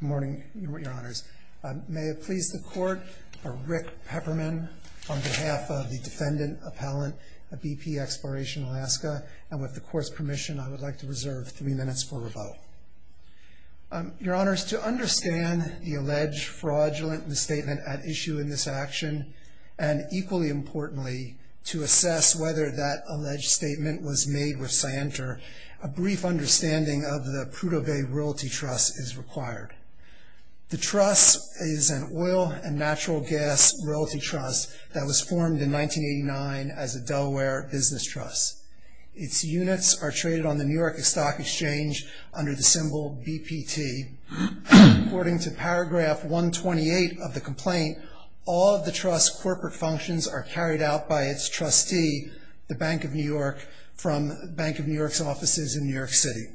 Good morning, Your Honors. May it please the court, I'm Rick Pepperman on behalf of the Defendant Appellant at BP Exploration Alaska, and with the court's permission, I would like to reserve three minutes for rebuttal. Your Honors, to understand the alleged fraudulent misstatement at issue in this action, and equally importantly, to assess whether that alleged statement was made with scienter, a brief understanding of the Prudhoe Bay Royalty Trust is required. The trust is an oil and natural gas royalty trust that was formed in 1989 as a Delaware business trust. Its units are traded on the New York Stock Exchange under the symbol BPT. According to paragraph 128 of the complaint, all of the trust's corporate functions are carried out by its trustee, the Bank of New York, from Bank of New York's offices in New York City.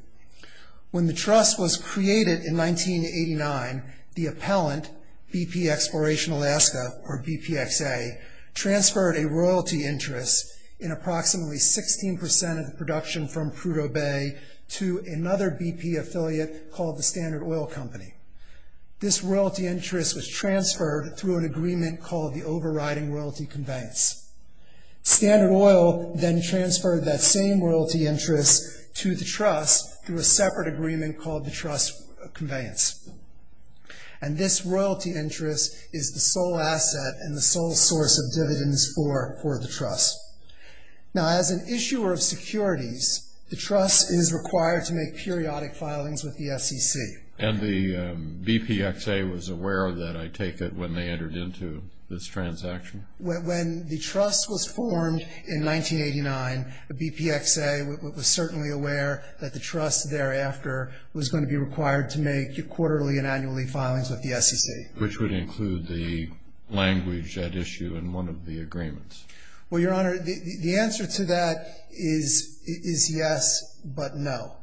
When the trust was created in 1989, the appellant, BP Exploration Alaska, or BPXA, transferred a royalty interest in approximately 16% of the production from Prudhoe Bay to another BP affiliate called the Standard Oil Company. This royalty interest was transferred through an agreement called the Overriding Royalty Conveyance. Standard Oil then transferred that same royalty interest to the trust through a separate agreement called the Trust Conveyance. This royalty interest is the sole asset and the sole source of dividends for the trust. Now, as an issuer of securities, the trust is required to make periodic filings with the SEC. And the BPXA was aware of that, I take it, when they entered into this transaction? When the trust was formed in 1989, BPXA was certainly aware that the trust thereafter was going to be required to make quarterly and annually filings with the SEC. Which would include the language at issue in one of the agreements? Well, Your Honor, the answer to that is yes, but no.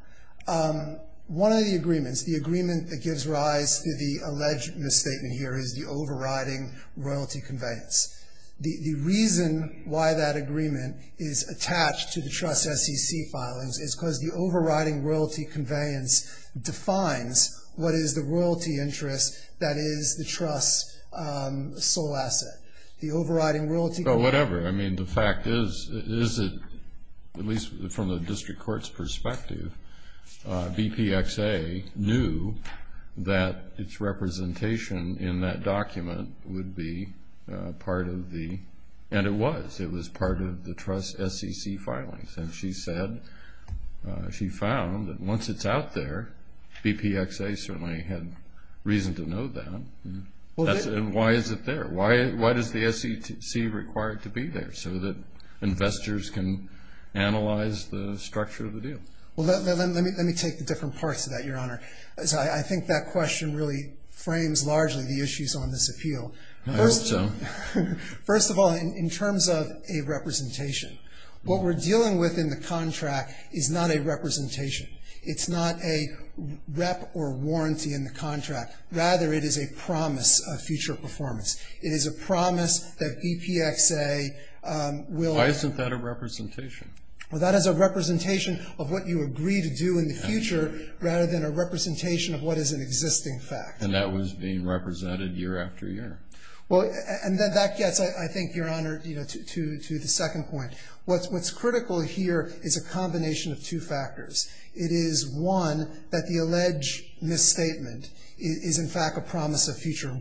One of the agreements, the agreement that gives rise to the alleged misstatement here is the Overriding Royalty Conveyance. The reason why that agreement is attached to the trust SEC filings is because the Overriding Royalty Conveyance defines what is the royalty interest that is the trust's sole asset. Oh, whatever. I mean, the fact is, at least from the district court's perspective, BPXA knew that its representation in that document would be part of the, and it was, it was part of the trust SEC filings. And she said, she found that once it's out there, BPXA certainly had reason to know that. Why is it there? Why does the SEC require it to be there so that investors can analyze the structure of the deal? Well, let me take the different parts of that, Your Honor. I think that question really frames largely the issues on this appeal. I hope so. First of all, in terms of a representation, what we're dealing with in the contract is not a representation. It's not a rep or warranty in the contract. Rather, it is a promise of future performance. It is a promise that BPXA will. Why isn't that a representation? Well, that is a representation of what you agree to do in the future rather than a representation of what is an existing fact. And that was being represented year after year. Well, and that gets, I think, Your Honor, you know, to the second point. What's critical here is a combination of two factors. It is, one, that the alleged misstatement is, in fact, a promise of future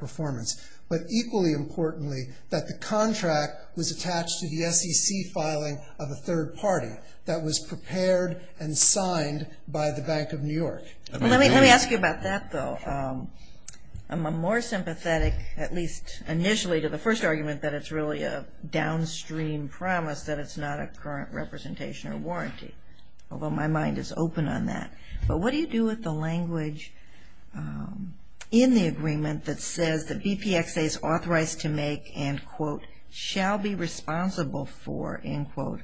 performance. But equally importantly, that the contract was attached to the SEC filing of a third party that was prepared and signed by the Bank of New York. Let me ask you about that, though. I'm more sympathetic, at least initially, to the first argument that it's really a downstream promise, that it's not a current representation or warranty, although my mind is open on that. But what do you do with the language in the agreement that says that BPXA is authorized to make and, quote, shall be responsible for, end quote,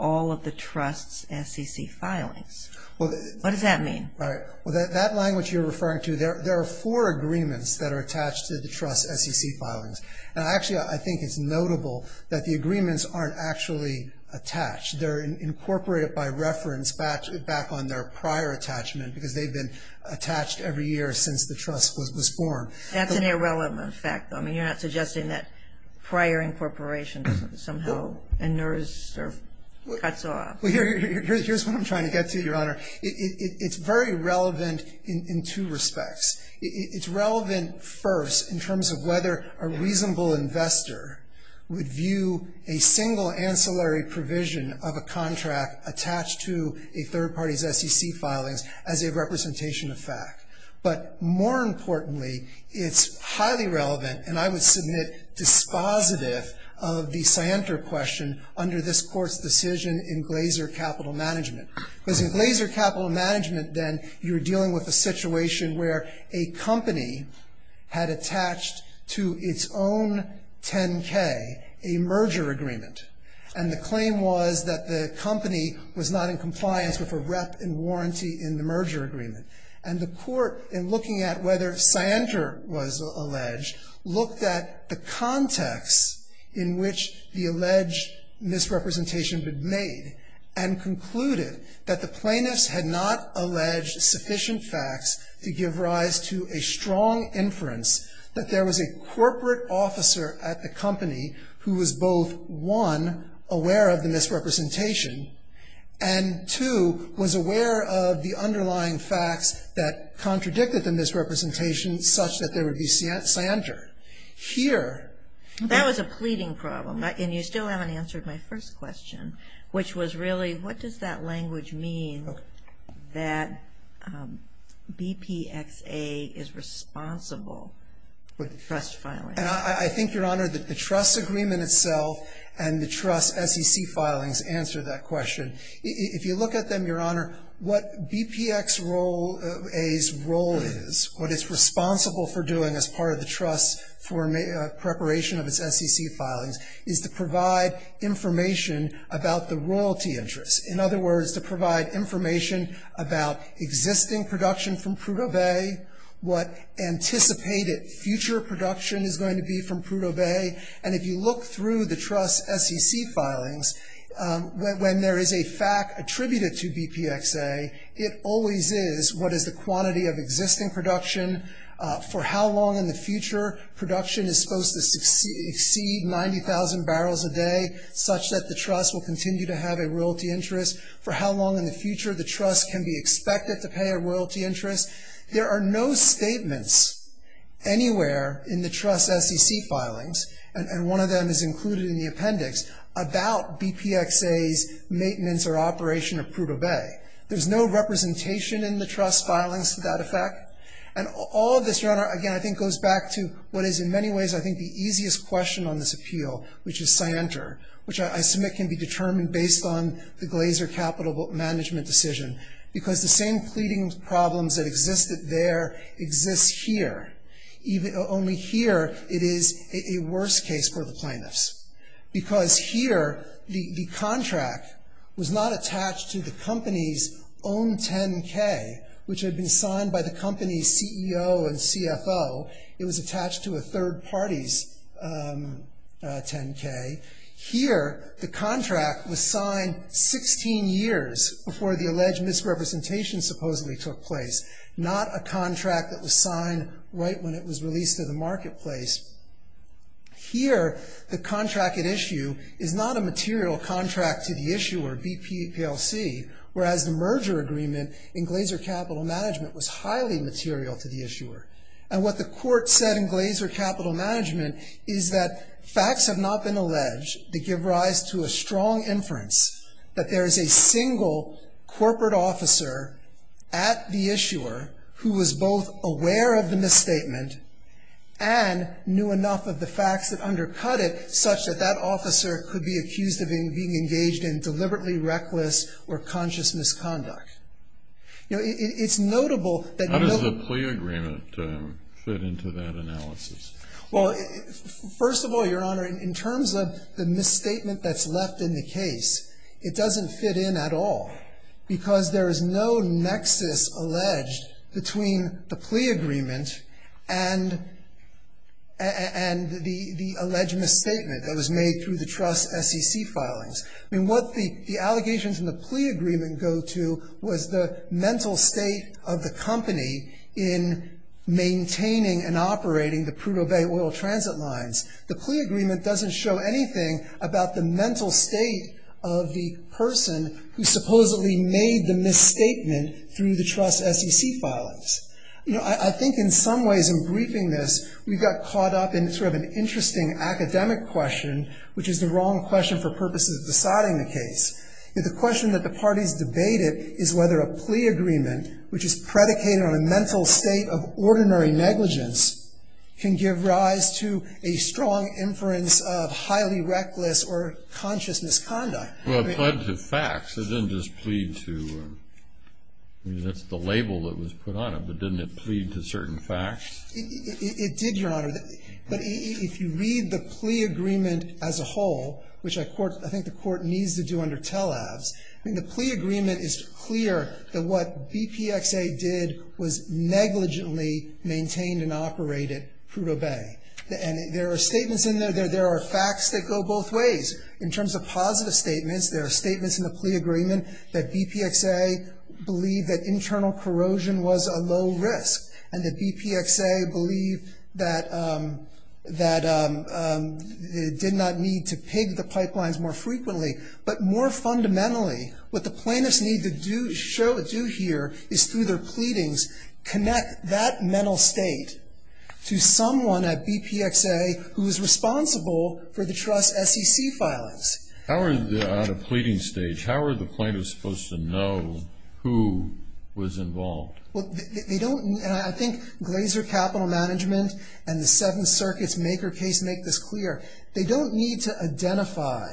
all of the trust's SEC filings? What does that mean? All right. Well, that language you're referring to, there are four agreements that are attached to the trust's SEC filings. And actually, I think it's notable that the agreements aren't actually attached. They're incorporated by reference back on their prior attachment, because they've been attached every year since the trust was born. That's an irrelevant fact, though. I mean, you're not suggesting that prior incorporation somehow inerts or cuts off. Well, here's what I'm trying to get to, Your Honor. It's very relevant in two respects. It's relevant first in terms of whether a reasonable investor would view a single ancillary provision of a contract attached to a third party's SEC filings as a representation of fact. But more importantly, it's highly relevant, and I would submit dispositive, of the scienter question under this Court's decision in Glaser Capital Management. Because in Glaser Capital Management, then, you're dealing with a situation where a company had attached to its own 10K a merger agreement. And the claim was that the company was not in compliance with a rep and warranty in the merger agreement. And the Court, in looking at whether scienter was alleged, looked at the context in which the alleged misrepresentation had been made, and concluded that the plaintiffs had not alleged sufficient facts to give rise to a strong inference that there was a corporate officer at the company who was both, one, aware of the misrepresentation, and two, was aware of the underlying facts that contradicted the misrepresentation such that there would be scienter. Here. That was a pleading problem. And you still haven't answered my first question, which was really, what does that language mean that BPXA is responsible for the trust filing? I think, Your Honor, that the trust agreement itself and the trust SEC filings answer that question. If you look at them, Your Honor, what BPXA's role is, what it's responsible for doing as part of the trust's preparation of its SEC filings, is to provide information about the royalty interests. In other words, to provide information about existing production from Prudhoe Bay, what anticipated future production is going to be from Prudhoe Bay. And if you look through the trust's SEC filings, when there is a fact attributed to BPXA, it always is what is the quantity of existing production, for how long in the future production is supposed to exceed 90,000 barrels a day, such that the trust will continue to have a royalty interest, for how long in the future the trust can be expected to pay a royalty interest. There are no statements anywhere in the trust's SEC filings, and one of them is included in the appendix, about BPXA's maintenance or operation of Prudhoe Bay. There's no representation in the trust's filings to that effect. And all of this, Your Honor, again, I think goes back to what is in many ways, I think, the easiest question on this appeal, which is scienter, which I submit can be determined based on the Glaser Capital Management decision, because the same pleading problems that existed there exist here, only here it is a worse case for the plaintiffs, because here the contract was not attached to the company's own 10K, which had been signed by the company's CEO and CFO, it was attached to a third party's 10K. Here the contract was signed 16 years before the alleged misrepresentation supposedly took place, not a contract that was signed right when it was released to the marketplace. Here the contract at issue is not a material contract to the issuer, BP PLC, whereas the merger agreement in Glaser Capital Management was highly material to the issuer. And what the court said in Glaser Capital Management is that facts have not been alleged that give rise to a strong inference that there is a single corporate officer at the issuer who was both aware of the misstatement and knew enough of the facts that undercut it such that that officer could be accused of being engaged in deliberately reckless or conscious misconduct. You know, it's notable that... How does the plea agreement fit into that analysis? Well, first of all, Your Honor, in terms of the misstatement that's left in the case, it doesn't fit in at all because there is no nexus alleged between the plea agreement and the alleged misstatement that was made through the trust SEC filings. I mean, what the allegations in the plea agreement go to was the mental state of the company in maintaining and operating the Prudhoe Bay oil transit lines. The plea agreement doesn't show anything about the mental state of the person who supposedly made the misstatement through the trust SEC filings. You know, I think in some ways in briefing this, we got caught up in sort of an interesting academic question, which is the wrong question for purposes of deciding the case. The question that the parties debated is whether a plea agreement, which is predicated on a mental state of ordinary negligence, can give rise to a strong inference of highly reckless or conscious misconduct. Well, it pled to facts. It didn't just plead to... I mean, that's the label that was put on it, but didn't it plead to certain facts? It did, Your Honor, but if you read the plea agreement as a whole, which I think the court needs to do under TELAVS, I mean, the plea agreement is clear that what BPXA did was negligently maintain and operate at Prudhoe Bay. And there are statements in there, there are facts that go both ways. In terms of positive statements, there are statements in the plea agreement that BPXA believed that internal corrosion was a low risk and that BPXA believed that it did not need to pig the pipelines more frequently. But more fundamentally, what the plaintiffs need to do here is through their pleadings connect that mental state to someone at BPXA who is responsible for the trust SEC filings. On a pleading stage, how are the plaintiffs supposed to know who was involved? I think Glaser Capital Management and the Seventh Circuit's maker case make this clear. They don't need to identify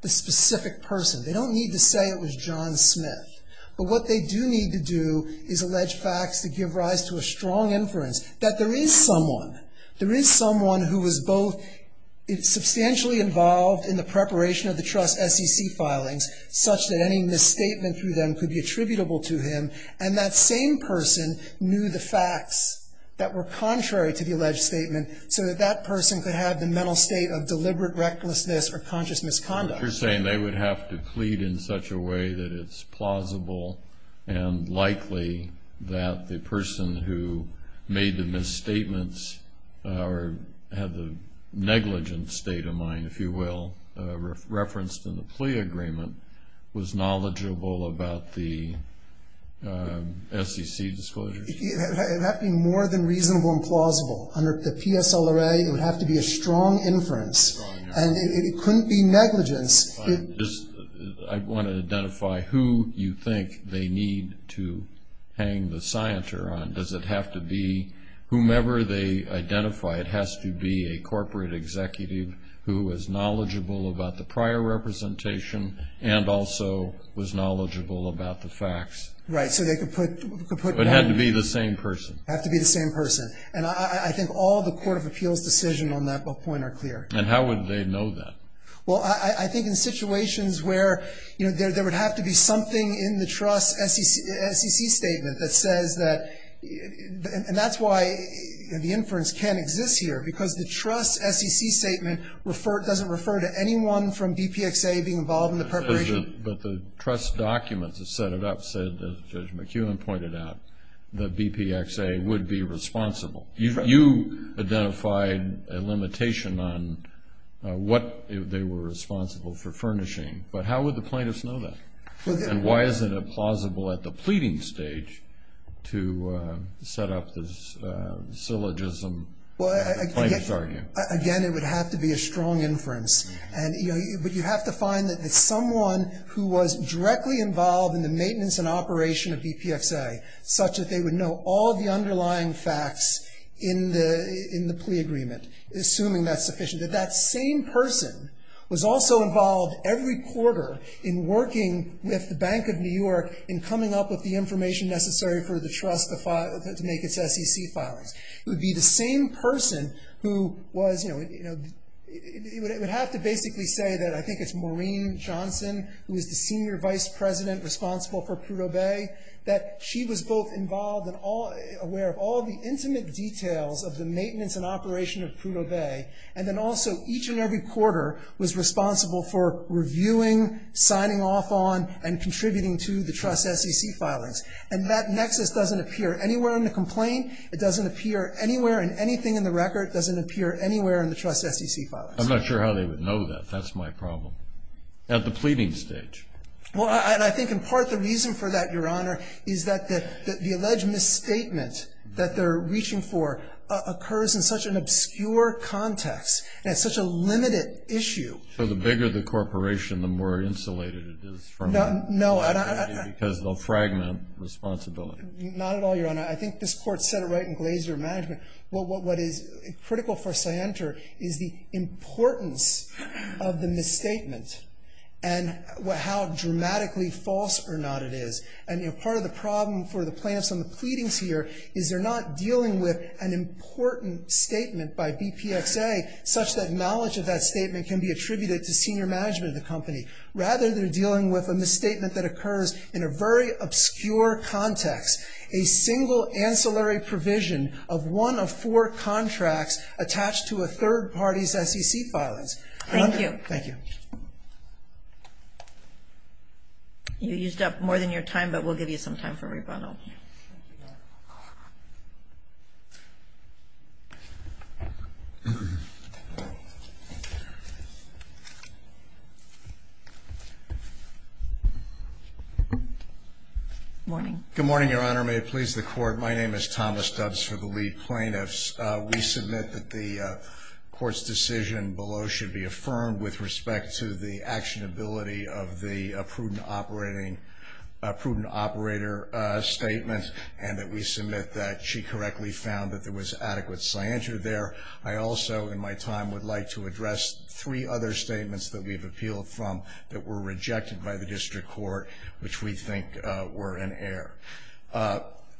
the specific person. They don't need to say it was John Smith. But what they do need to do is allege facts that give rise to a strong inference that there is someone, there is someone who was both substantially involved in the preparation of the trust SEC filings, such that any misstatement through them could be attributable to him, and that same person knew the facts that were contrary to the alleged statement so that that person could have the mental state of deliberate recklessness or conscious misconduct. You're saying they would have to plead in such a way that it's plausible and likely that the person who made the misstatements or had the negligent state of mind, if you will, referenced in the plea agreement was knowledgeable about the SEC disclosures? It had to be more than reasonable and plausible. Under the PSLRA, it would have to be a strong inference. And it couldn't be negligence. I want to identify who you think they need to hang the scienter on. Does it have to be whomever they identify? It has to be a corporate executive who is knowledgeable about the prior representation and also was knowledgeable about the facts. Right, so they could put one. It had to be the same person. It had to be the same person. And I think all the Court of Appeals decisions on that point are clear. And how would they know that? Well, I think in situations where there would have to be something in the trust SEC statement that says that, and that's why the inference can't exist here, because the trust SEC statement doesn't refer to anyone from BPXA being involved in the preparation. But the trust documents that set it up said, as Judge McKeown pointed out, that BPXA would be responsible. You identified a limitation on what they were responsible for furnishing. But how would the plaintiffs know that? And why is it implausible at the pleading stage to set up this syllogism that the plaintiffs argue? Again, it would have to be a strong inference. But you have to find that someone who was directly involved in the maintenance and operation of BPXA, such that they would know all the underlying facts in the plea agreement, assuming that's sufficient. That that same person was also involved every quarter in working with the Bank of New York in coming up with the information necessary for the trust to make its SEC filings. It would be the same person who was, you know, it would have to basically say that I think it's Maureen Johnson, who is the senior vice president responsible for Prudhoe Bay, that she was both involved and aware of all the intimate details of the maintenance and operation of Prudhoe Bay. And then also each and every quarter was responsible for reviewing, signing off on, and contributing to the trust SEC filings. And that nexus doesn't appear anywhere in the complaint. It doesn't appear anywhere in anything in the record. It doesn't appear anywhere in the trust SEC filings. I'm not sure how they would know that. That's my problem. At the pleading stage. Well, I think in part the reason for that, Your Honor, is that the alleged misstatement that they're reaching for occurs in such an obscure context, and it's such a limited issue. So the bigger the corporation, the more insulated it is from it. No, I don't. Because they'll fragment responsibility. Not at all, Your Honor. I think this Court said it right in Glaser Management. What is critical for Sienter is the importance of the misstatement and how dramatically false or not it is. And part of the problem for the plaintiffs on the pleadings here is they're not dealing with an important statement by BPXA such that knowledge of that statement can be attributed to senior management of the company. Rather, they're dealing with a misstatement that occurs in a very obscure context. A single ancillary provision of one of four contracts attached to a third party's SEC filings. Thank you. Thank you. You used up more than your time, but we'll give you some time for rebuttal. Good morning, Your Honor. May it please the Court. My name is Thomas Dubs for the lead plaintiffs. We submit that the Court's decision below should be affirmed with respect to the that she correctly found that there was adequate Sienter there. I also, in my time, would like to address three other statements that we've appealed from that were rejected by the District Court, which we think were in error.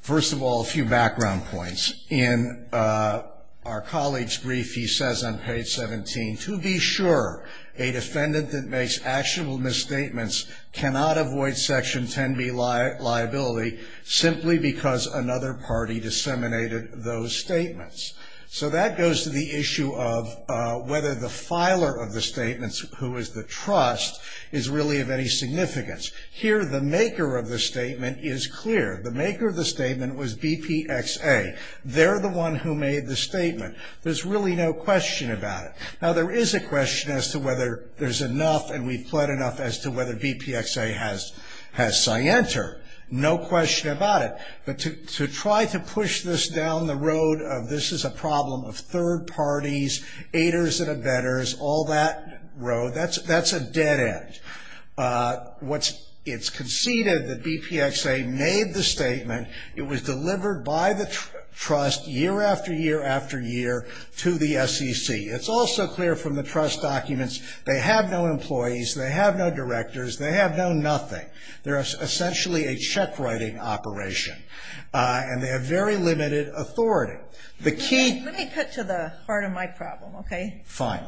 First of all, a few background points. In our colleague's brief, he says on page 17, to be sure a defendant that makes actionable misstatements cannot avoid Section 10B liability simply because another party disseminated those statements. So that goes to the issue of whether the filer of the statements, who is the trust, is really of any significance. Here, the maker of the statement is clear. The maker of the statement was BPXA. They're the one who made the statement. There's really no question about it. Now, there is a question as to whether there's enough, and we've pled enough as to whether BPXA has Sienter. No question about it. But to try to push this down the road of this is a problem of third parties, aiders and abettors, all that road, that's a dead end. It's conceded that BPXA made the statement. It was delivered by the trust year after year after year to the SEC. It's also clear from the trust documents. They have no employees. They have no directors. They have no nothing. They're essentially a check writing operation. And they have very limited authority. The key ---- Let me cut to the heart of my problem, okay? Fine.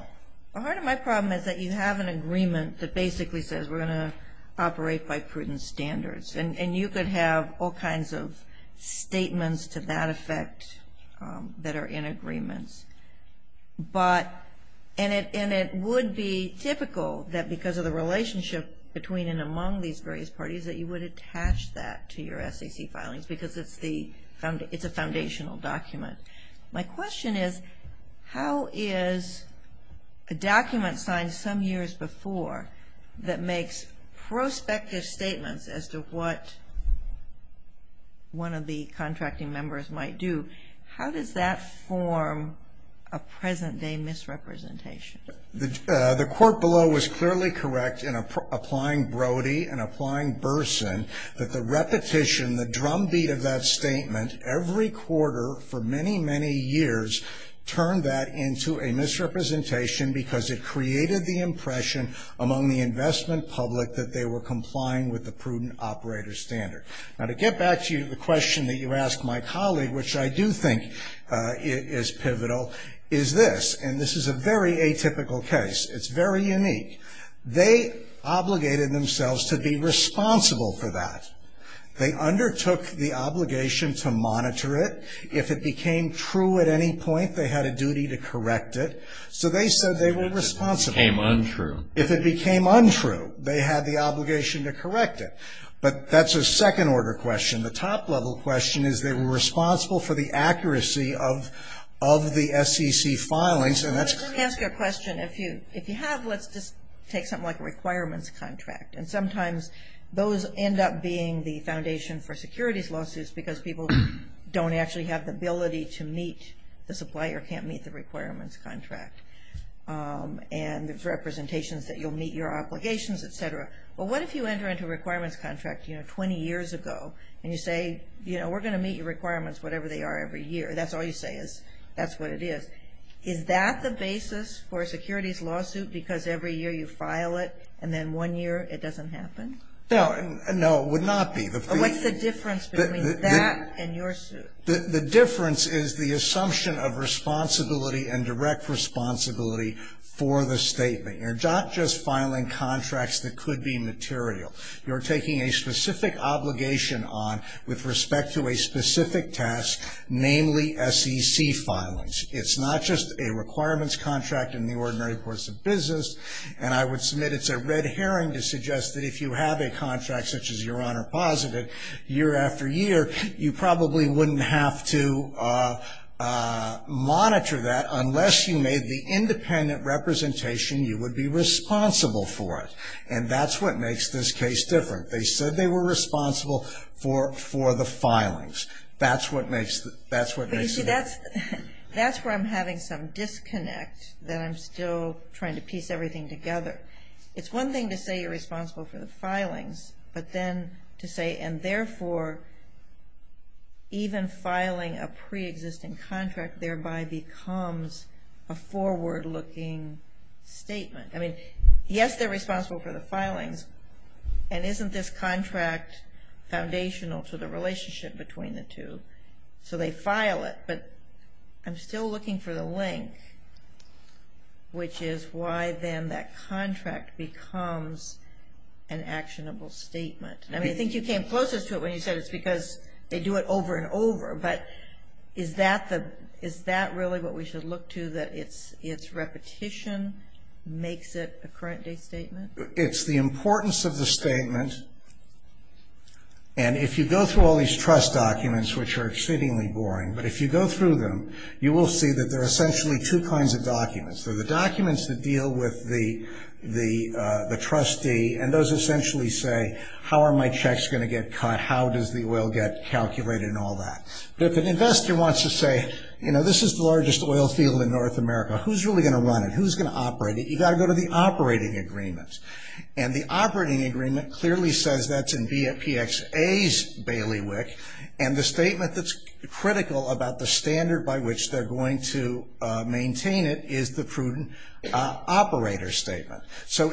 The heart of my problem is that you have an agreement that basically says we're going to operate by prudent standards. And you could have all kinds of statements to that effect that are in agreements. And it would be typical that because of the relationship between and among these various parties that you would attach that to your SEC filings because it's a foundational document. My question is how is a document signed some years before that makes prospective statements as to what one of the contracting members might do, how does that form a present-day misrepresentation? The court below was clearly correct in applying Brody and applying Burson that the repetition, the drumbeat of that statement, every quarter for many, many years turned that into a misrepresentation because it created the impression among the investment public that they were complying with the prudent operator standard. Now to get back to the question that you asked my colleague, which I do think is pivotal, is this. And this is a very atypical case. It's very unique. They obligated themselves to be responsible for that. They undertook the obligation to monitor it. If it became true at any point, they had a duty to correct it. So they said they were responsible. If it became untrue, they had the obligation to correct it. But that's a second-order question. The top-level question is they were responsible for the accuracy of the SEC filings. Let me ask you a question. If you have, let's just take something like a requirements contract. And sometimes those end up being the foundation for securities lawsuits because people don't actually have the ability to meet the supply or can't meet the requirements contract. And there's representations that you'll meet your obligations, et cetera. But what if you enter into a requirements contract, you know, 20 years ago, and you say, you know, we're going to meet your requirements, whatever they are, every year. That's all you say is that's what it is. Is that the basis for a securities lawsuit because every year you file it and then one year it doesn't happen? No, it would not be. What's the difference between that and your suit? The difference is the assumption of responsibility and direct responsibility for the statement. You're not just filing contracts that could be material. You're taking a specific obligation on with respect to a specific task, namely SEC filings. It's not just a requirements contract in the ordinary course of business. And I would submit it's a red herring to suggest that if you have a contract, such as Your Honor posited, year after year, you probably wouldn't have to monitor that unless you made the independent representation you would be responsible for it. And that's what makes this case different. They said they were responsible for the filings. That's what makes it different. But you see, that's where I'm having some disconnect that I'm still trying to piece everything together. It's one thing to say you're responsible for the filings, but then to say, and therefore even filing a preexisting contract thereby becomes a forward-looking statement. I mean, yes, they're responsible for the filings, and isn't this contract foundational to the relationship between the two? So they file it, but I'm still looking for the link, which is why then that contract becomes an actionable statement. I mean, I think you came closest to it when you said it's because they do it over and over. But is that really what we should look to, that it's repetition makes it a current-day statement? It's the importance of the statement. And if you go through all these trust documents, which are exceedingly boring, but if you go through them, you will see that there are essentially two kinds of documents. There are the documents that deal with the trustee, and those essentially say how are my checks going to get cut, how does the oil get calculated, and all that. But if an investor wants to say, you know, this is the largest oil field in North America, who's really going to run it, who's going to operate it? You've got to go to the operating agreement. And the operating agreement clearly says that's in BFPXA's bailiwick, and the statement that's critical about the standard by which they're going to maintain it is the prudent operator statement. So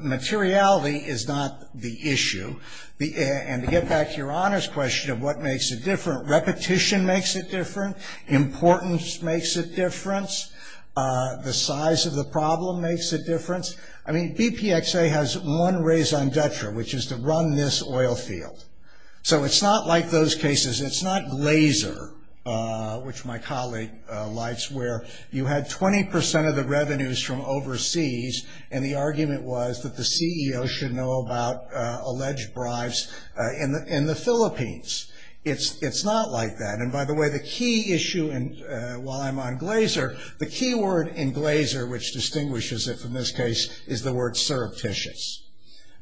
materiality is not the issue. And to get back to your honors question of what makes it different, repetition makes it different, importance makes it different, the size of the problem makes a difference. I mean, BPXA has one raison d'etre, which is to run this oil field. So it's not like those cases. It's not laser, which my colleague likes, where you had 20% of the revenues from overseas, and the argument was that the CEO should know about alleged bribes in the Philippines. It's not like that. And, by the way, the key issue while I'm on laser, the key word in laser, which distinguishes it from this case, is the word surreptitious.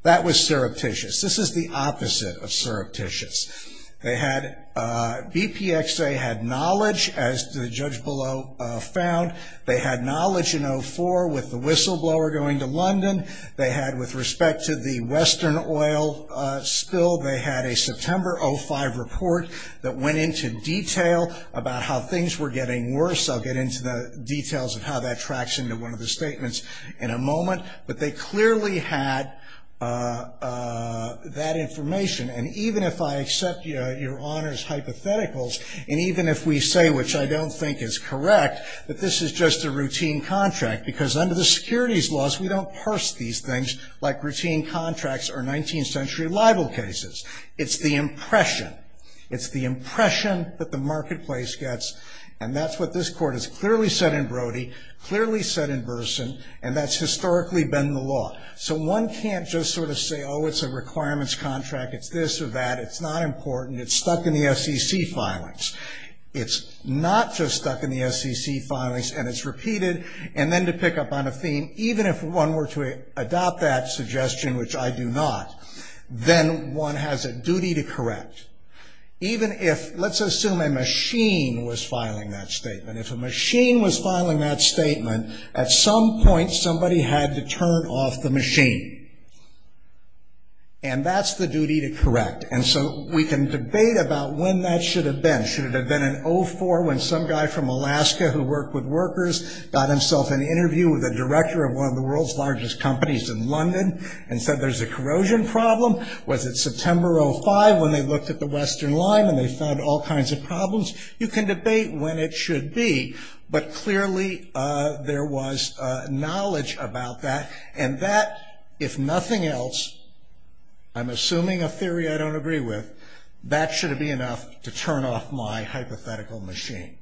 That was surreptitious. This is the opposite of surreptitious. BPXA had knowledge, as the judge below found. They had knowledge in 04 with the whistleblower going to London. They had, with respect to the Western oil spill, they had a September 05 report that went into detail about how things were getting worse. I'll get into the details of how that tracks into one of the statements in a moment. But they clearly had that information. And even if I accept your Honor's hypotheticals, and even if we say, which I don't think is correct, that this is just a routine contract, because under the securities laws, we don't parse these things like routine contracts or 19th century libel cases. It's the impression. It's the impression that the marketplace gets, and that's what this Court has clearly said in Brody, clearly said in Burson, and that's historically been the law. So one can't just sort of say, oh, it's a requirements contract, it's this or that, it's not important, it's stuck in the SEC filings. It's not just stuck in the SEC filings, and it's repeated, and then to pick up on a theme, even if one were to adopt that suggestion, which I do not, then one has a duty to correct. Even if, let's assume a machine was filing that statement. If a machine was filing that statement, at some point somebody had to turn off the machine. And that's the duty to correct. And so we can debate about when that should have been. Should it have been in 04 when some guy from Alaska who worked with workers got himself an interview with a director of one of the world's largest companies in London and said there's a corrosion problem? Was it September 05 when they looked at the Western line and they found all kinds of problems? You can debate when it should be, but clearly there was knowledge about that, and that, if nothing else, I'm assuming a theory I don't agree with, that should be enough to turn off my hypothetical machine.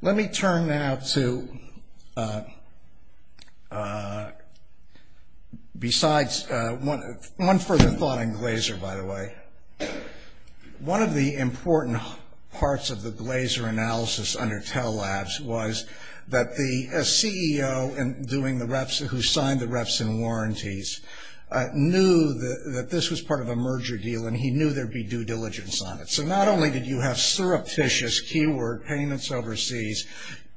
Let me turn now to, besides, one further thought on Glaser, by the way. One of the important parts of the Glaser analysis under Tell Labs was that the CEO who signed the reps and warranties knew that this was part of a merger deal, and he knew there would be due diligence on it. So not only did you have surreptitious keyword payments overseas,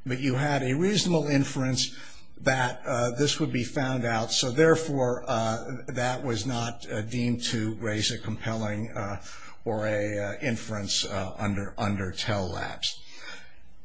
but you had a reasonable inference that this would be found out, so therefore that was not deemed to raise a compelling or an inference under Tell Labs.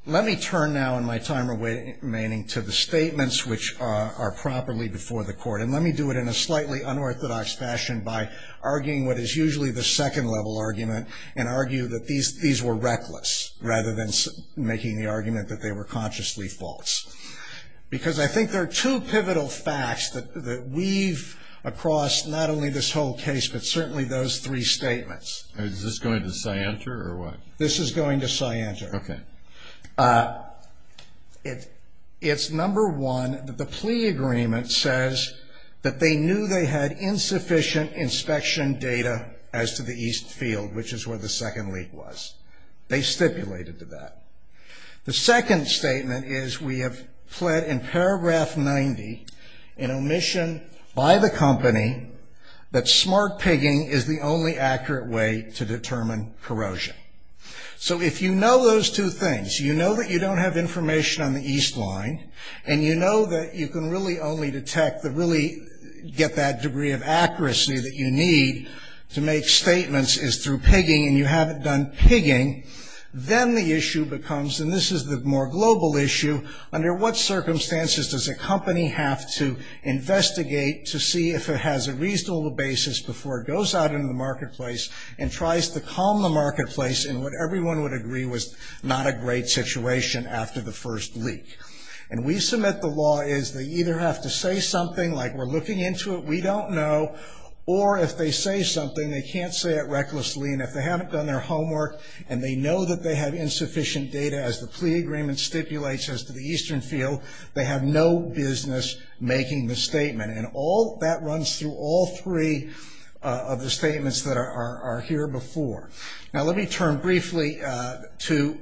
Let me turn now, in my time remaining, to the statements which are properly before the court, and let me do it in a slightly unorthodox fashion by arguing what is usually the second-level argument and argue that these were reckless, rather than making the argument that they were consciously false. Because I think there are two pivotal facts that weave across not only this whole case, but certainly those three statements. Is this going to say enter, or what? This is going to say enter. It's number one that the plea agreement says that they knew they had insufficient inspection data as to the east field, which is where the second leak was. They stipulated to that. The second statement is we have pled in paragraph 90, in omission by the company, that smart pigging is the only accurate way to determine corrosion. So if you know those two things, you know that you don't have information on the east line, and you know that you can really only detect, really get that degree of accuracy that you need to make statements, is through pigging, and you haven't done pigging, then the issue becomes, and this is the more global issue, under what circumstances does a company have to investigate to see if it has a reasonable basis before it goes out into the marketplace and tries to calm the marketplace in what everyone would agree was not a great situation after the first leak. And we submit the law as they either have to say something, like we're looking into it, we don't know, or if they say something, they can't say it recklessly, and if they haven't done their homework, and they know that they have insufficient data as the plea agreement stipulates as to the eastern field, they have no business making the statement. And that runs through all three of the statements that are here before. Now let me turn briefly to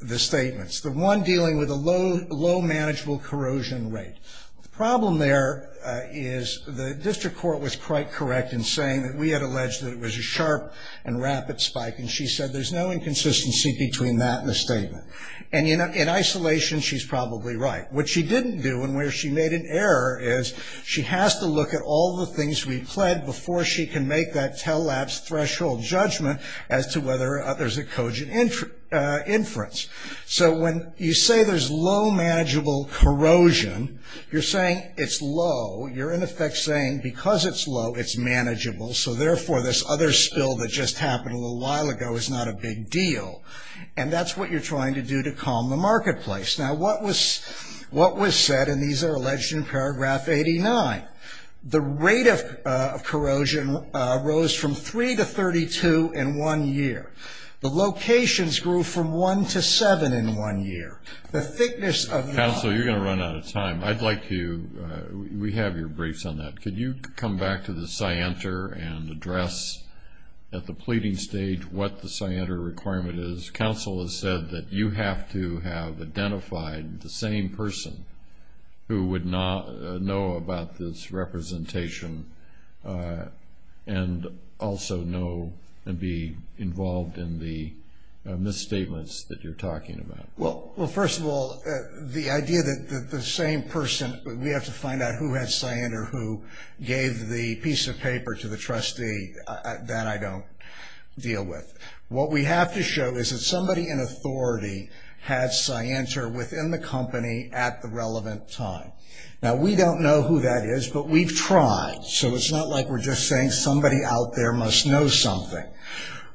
the statements. The one dealing with a low manageable corrosion rate. The problem there is the district court was quite correct in saying that we had alleged that it was a sharp and rapid spike, and she said there's no inconsistency between that and the statement. And in isolation, she's probably right. What she didn't do, and where she made an error, is she has to look at all the things we pled before she can make that tell-lapse threshold judgment as to whether there's a cogent inference. So when you say there's low manageable corrosion, you're saying it's low, you're in effect saying because it's low, it's manageable, so therefore this other spill that just happened a little while ago is not a big deal. And that's what you're trying to do to calm the marketplace. Now what was said, and these are alleged in paragraph 89, the rate of corrosion rose from 3 to 32 in one year. The locations grew from 1 to 7 in one year. The thickness of the- Counsel, you're going to run out of time. I'd like to, we have your briefs on that. Could you come back to the scienter and address at the pleading stage what the scienter requirement is? Counsel has said that you have to have identified the same person who would know about this representation and also know and be involved in the misstatements that you're talking about. Well, first of all, the idea that the same person, we have to find out who had scienter who gave the piece of paper to the trustee that I don't deal with. What we have to show is that somebody in authority had scienter within the company at the relevant time. Now we don't know who that is, but we've tried, so it's not like we're just saying somebody out there must know something.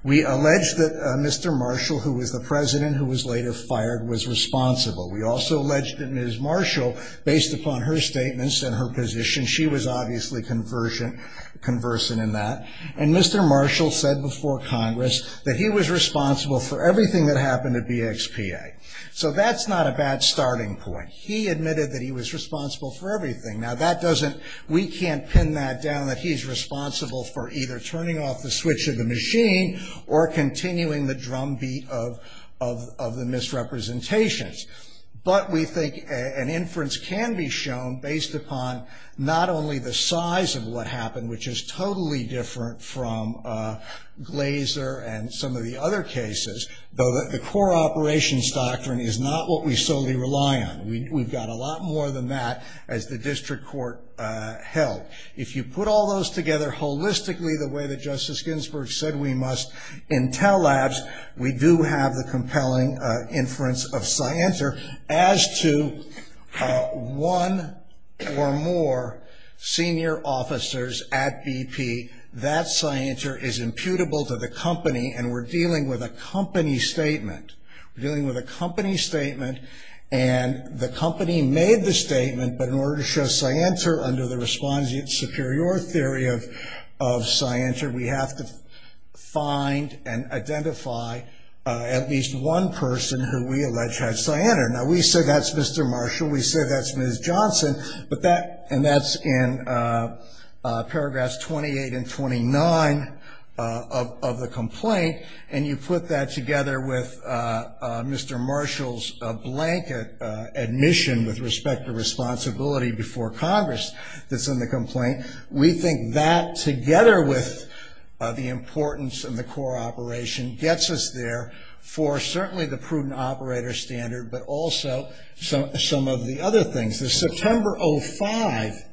We allege that Mr. Marshall, who was the president who was later fired, was responsible. We also allege that Ms. Marshall, based upon her statements and her position, she was obviously conversant in that. And Mr. Marshall said before Congress that he was responsible for everything that happened at BXPA. So that's not a bad starting point. He admitted that he was responsible for everything. Now that doesn't, we can't pin that down, that he's responsible for either turning off the switch of the machine or continuing the drumbeat of the misrepresentations. But we think an inference can be shown based upon not only the size of what happened, which is totally different from Glazer and some of the other cases, though the core operations doctrine is not what we solely rely on. We've got a lot more than that, as the district court held. If you put all those together holistically the way that Justice Ginsburg said we must, Intel Labs, we do have the compelling inference of Scienter. As to one or more senior officers at BP, that Scienter is imputable to the company, and we're dealing with a company statement. We're dealing with a company statement, and the company made the statement, but in order to show Scienter under the respondent superior theory of Scienter, we have to find and identify at least one person who we allege had Scienter. Now we said that's Mr. Marshall, we said that's Ms. Johnson, and that's in paragraphs 28 and 29 of the complaint, and you put that together with Mr. Marshall's blanket admission with respect to responsibility before Congress that's in the complaint, we think that, together with the importance of the core operation, gets us there for certainly the prudent operator standard, but also some of the other things. The September 05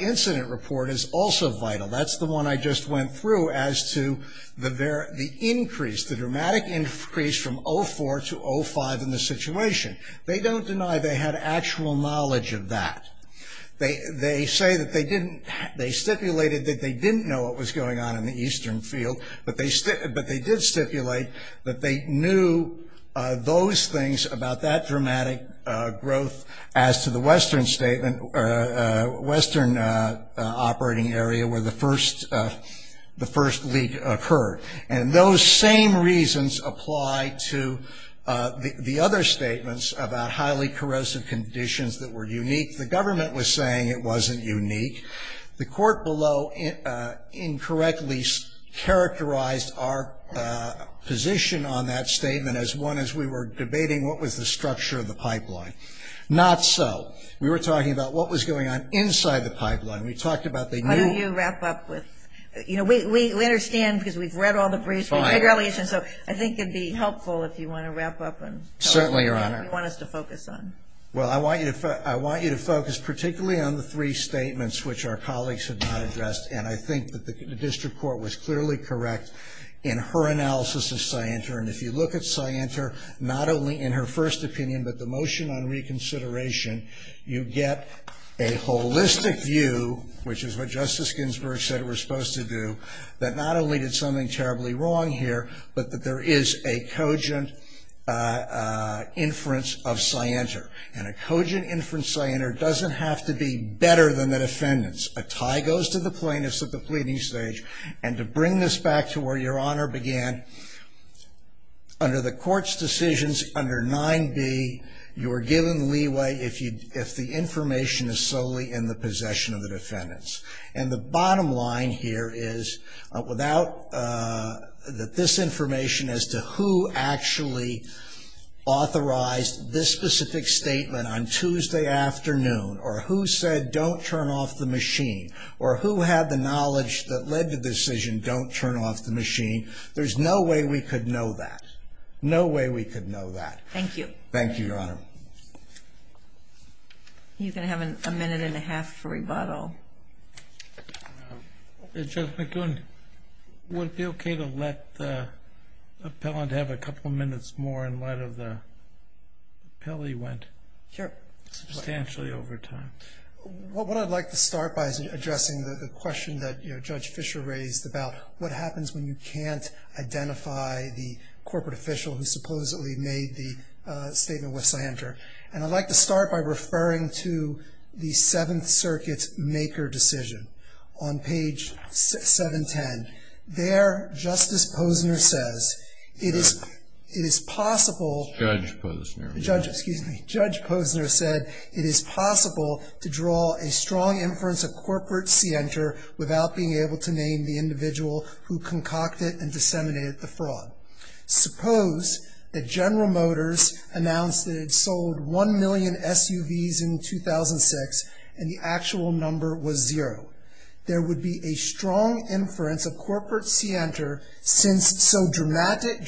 incident report is also vital. That's the one I just went through as to the increase, the dramatic increase from 04 to 05 in the situation. They don't deny they had actual knowledge of that. They say that they stipulated that they didn't know what was going on in the eastern field, but they did stipulate that they knew those things about that dramatic growth. As to the western statement, western operating area where the first leak occurred, and those same reasons apply to the other statements about highly corrosive conditions that were unique. The government was saying it wasn't unique. The court below incorrectly characterized our position on that statement as one as we were debating what was the structure of the pipeline. Not so. We were talking about what was going on inside the pipeline. We talked about they knew. How do you wrap up with, you know, we understand because we've read all the briefs. It's fine. So I think it would be helpful if you want to wrap up and tell us what you want us to focus on. Certainly, Your Honor. Well, I want you to focus particularly on the three statements which our colleagues have not addressed, and I think that the district court was clearly correct in her analysis of Scienter, and if you look at Scienter, not only in her first opinion, but the motion on reconsideration, you get a holistic view, which is what Justice Ginsburg said it was supposed to do, that not only did something terribly wrong here, but that there is a cogent inference of Scienter, and a cogent inference of Scienter doesn't have to be better than the defendants. A tie goes to the plaintiffs at the pleading stage, and to bring this back to where Your Honor began, under the court's decisions under 9B, you are given leeway if the information is solely in the possession of the defendants, and the bottom line here is that this information as to who actually authorized this specific statement on Tuesday afternoon or who said don't turn off the machine or who had the knowledge that led the decision don't turn off the machine, there's no way we could know that. No way we could know that. Thank you. Thank you, Your Honor. You can have a minute and a half for rebuttal. Judge McGoon, would it be okay to let the appellant have a couple of minutes more in light of the appeal he went substantially over time? What I'd like to start by is addressing the question that Judge Fischer raised about what happens when you can't identify the corporate official who supposedly made the statement with Scienter, and I'd like to start by referring to the Seventh Circuit's maker decision. On page 710, there Justice Posner says it is possible. Judge Posner. Posner said it is possible to draw a strong inference of corporate Scienter without being able to name the individual who concocted and disseminated the fraud. Suppose that General Motors announced that it sold 1 million SUVs in 2006 and the actual number was zero. There would be a strong inference of corporate Scienter since so dramatic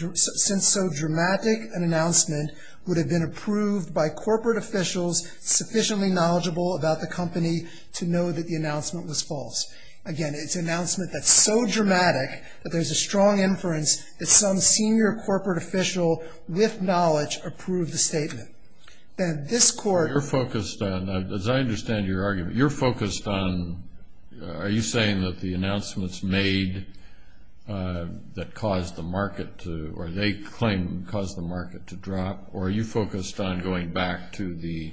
an announcement would have been approved by corporate officials sufficiently knowledgeable about the company to know that the announcement was false. Again, it's an announcement that's so dramatic that there's a strong inference that some senior corporate official with knowledge approved the statement. Then this court- You're focused on, as I understand your argument, you're focused on, are you saying that the announcements made that caused the market to, or they claim caused the market to drop, or are you focused on going back to the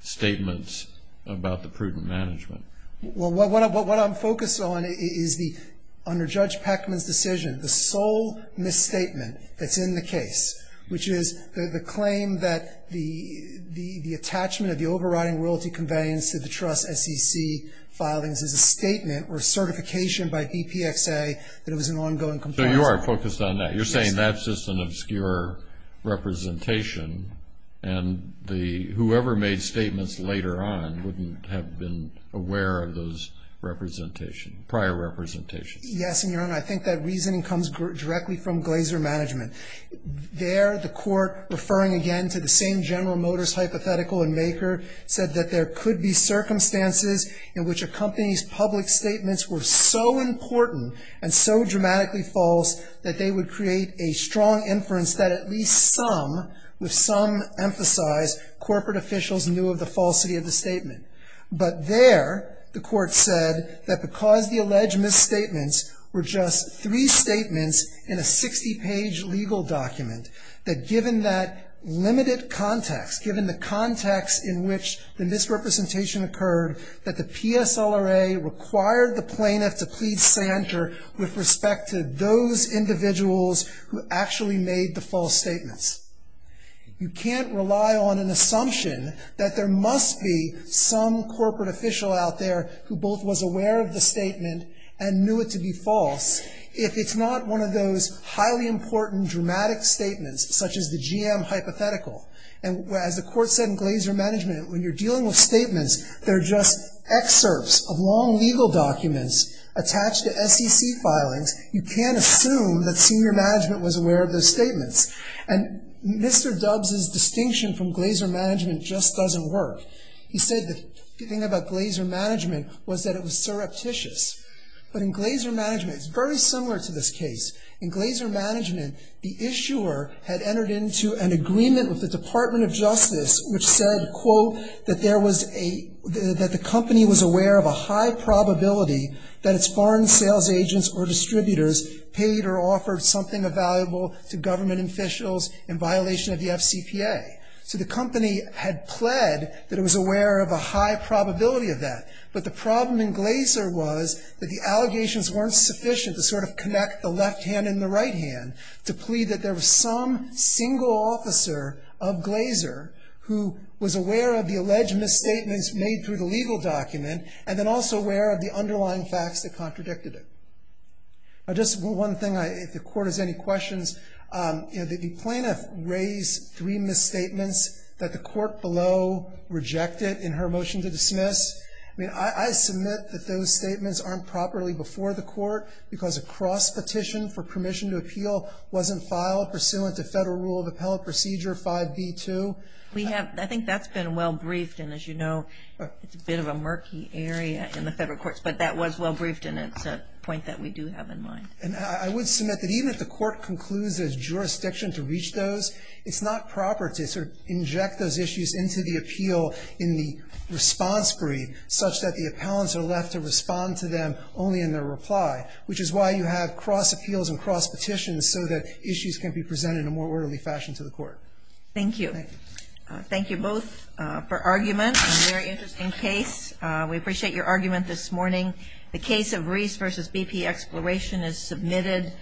statements about the prudent management? Well, what I'm focused on is the, under Judge Peckman's decision, the sole misstatement that's in the case, which is the claim that the attachment of the overriding royalty conveyance to the trust SEC filings is a statement or certification by DPXA that it was an ongoing compromise. So you are focused on that. You're saying that's just an obscure representation, and whoever made statements later on wouldn't have been aware of those representations, prior representations. Yes, and, Your Honor, I think that reasoning comes directly from Glaser Management. There, the court, referring again to the same General Motors hypothetical in Maker, said that there could be circumstances in which a company's public statements were so important and so dramatically false that they would create a strong inference that at least some, with some emphasize, corporate officials knew of the falsity of the statement. But there, the court said that because the alleged misstatements were just three statements in a 60-page legal document, that given that limited context, given the context in which the misrepresentation occurred, that the PSLRA required the plaintiff to please center with respect to those individuals who actually made the false statements. You can't rely on an assumption that there must be some corporate official out there who both was aware of the statement and knew it to be false if it's not one of those highly important dramatic statements, such as the GM hypothetical. And as the court said in Glaser Management, when you're dealing with statements, they're just excerpts of long legal documents attached to SEC filings. You can't assume that senior management was aware of those statements. And Mr. Dubs' distinction from Glaser Management just doesn't work. He said the thing about Glaser Management was that it was surreptitious. But in Glaser Management, it's very similar to this case. In Glaser Management, the issuer had entered into an agreement with the Department of Justice which said, quote, that the company was aware of a high probability that its foreign sales agents or distributors paid or offered something of value to government officials in violation of the FCPA. So the company had pled that it was aware of a high probability of that. But the problem in Glaser was that the allegations weren't sufficient to sort of connect the left hand and the right hand to plead that there was some single officer of Glaser who was aware of the alleged misstatements made through the legal document and then also aware of the underlying facts that contradicted it. Just one thing, if the court has any questions. The plaintiff raised three misstatements that the court below rejected in her motion to dismiss. I mean, I submit that those statements aren't properly before the court because a cross petition for permission to appeal wasn't filed pursuant to Federal Rule of Appellate Procedure 5B2. We have, I think that's been well briefed, and as you know, it's a bit of a murky area in the Federal courts. But that was well briefed, and it's a point that we do have in mind. And I would submit that even if the court concludes there's jurisdiction to reach those, it's not proper to sort of inject those issues into the appeal in the response brief such that the appellants are left to respond to them only in their reply, which is why you have cross appeals and cross petitions so that issues can be presented in a more orderly fashion to the court. Thank you. Thank you both for argument on a very interesting case. We appreciate your argument this morning. The case of Reese v. BP Exploration is submitted.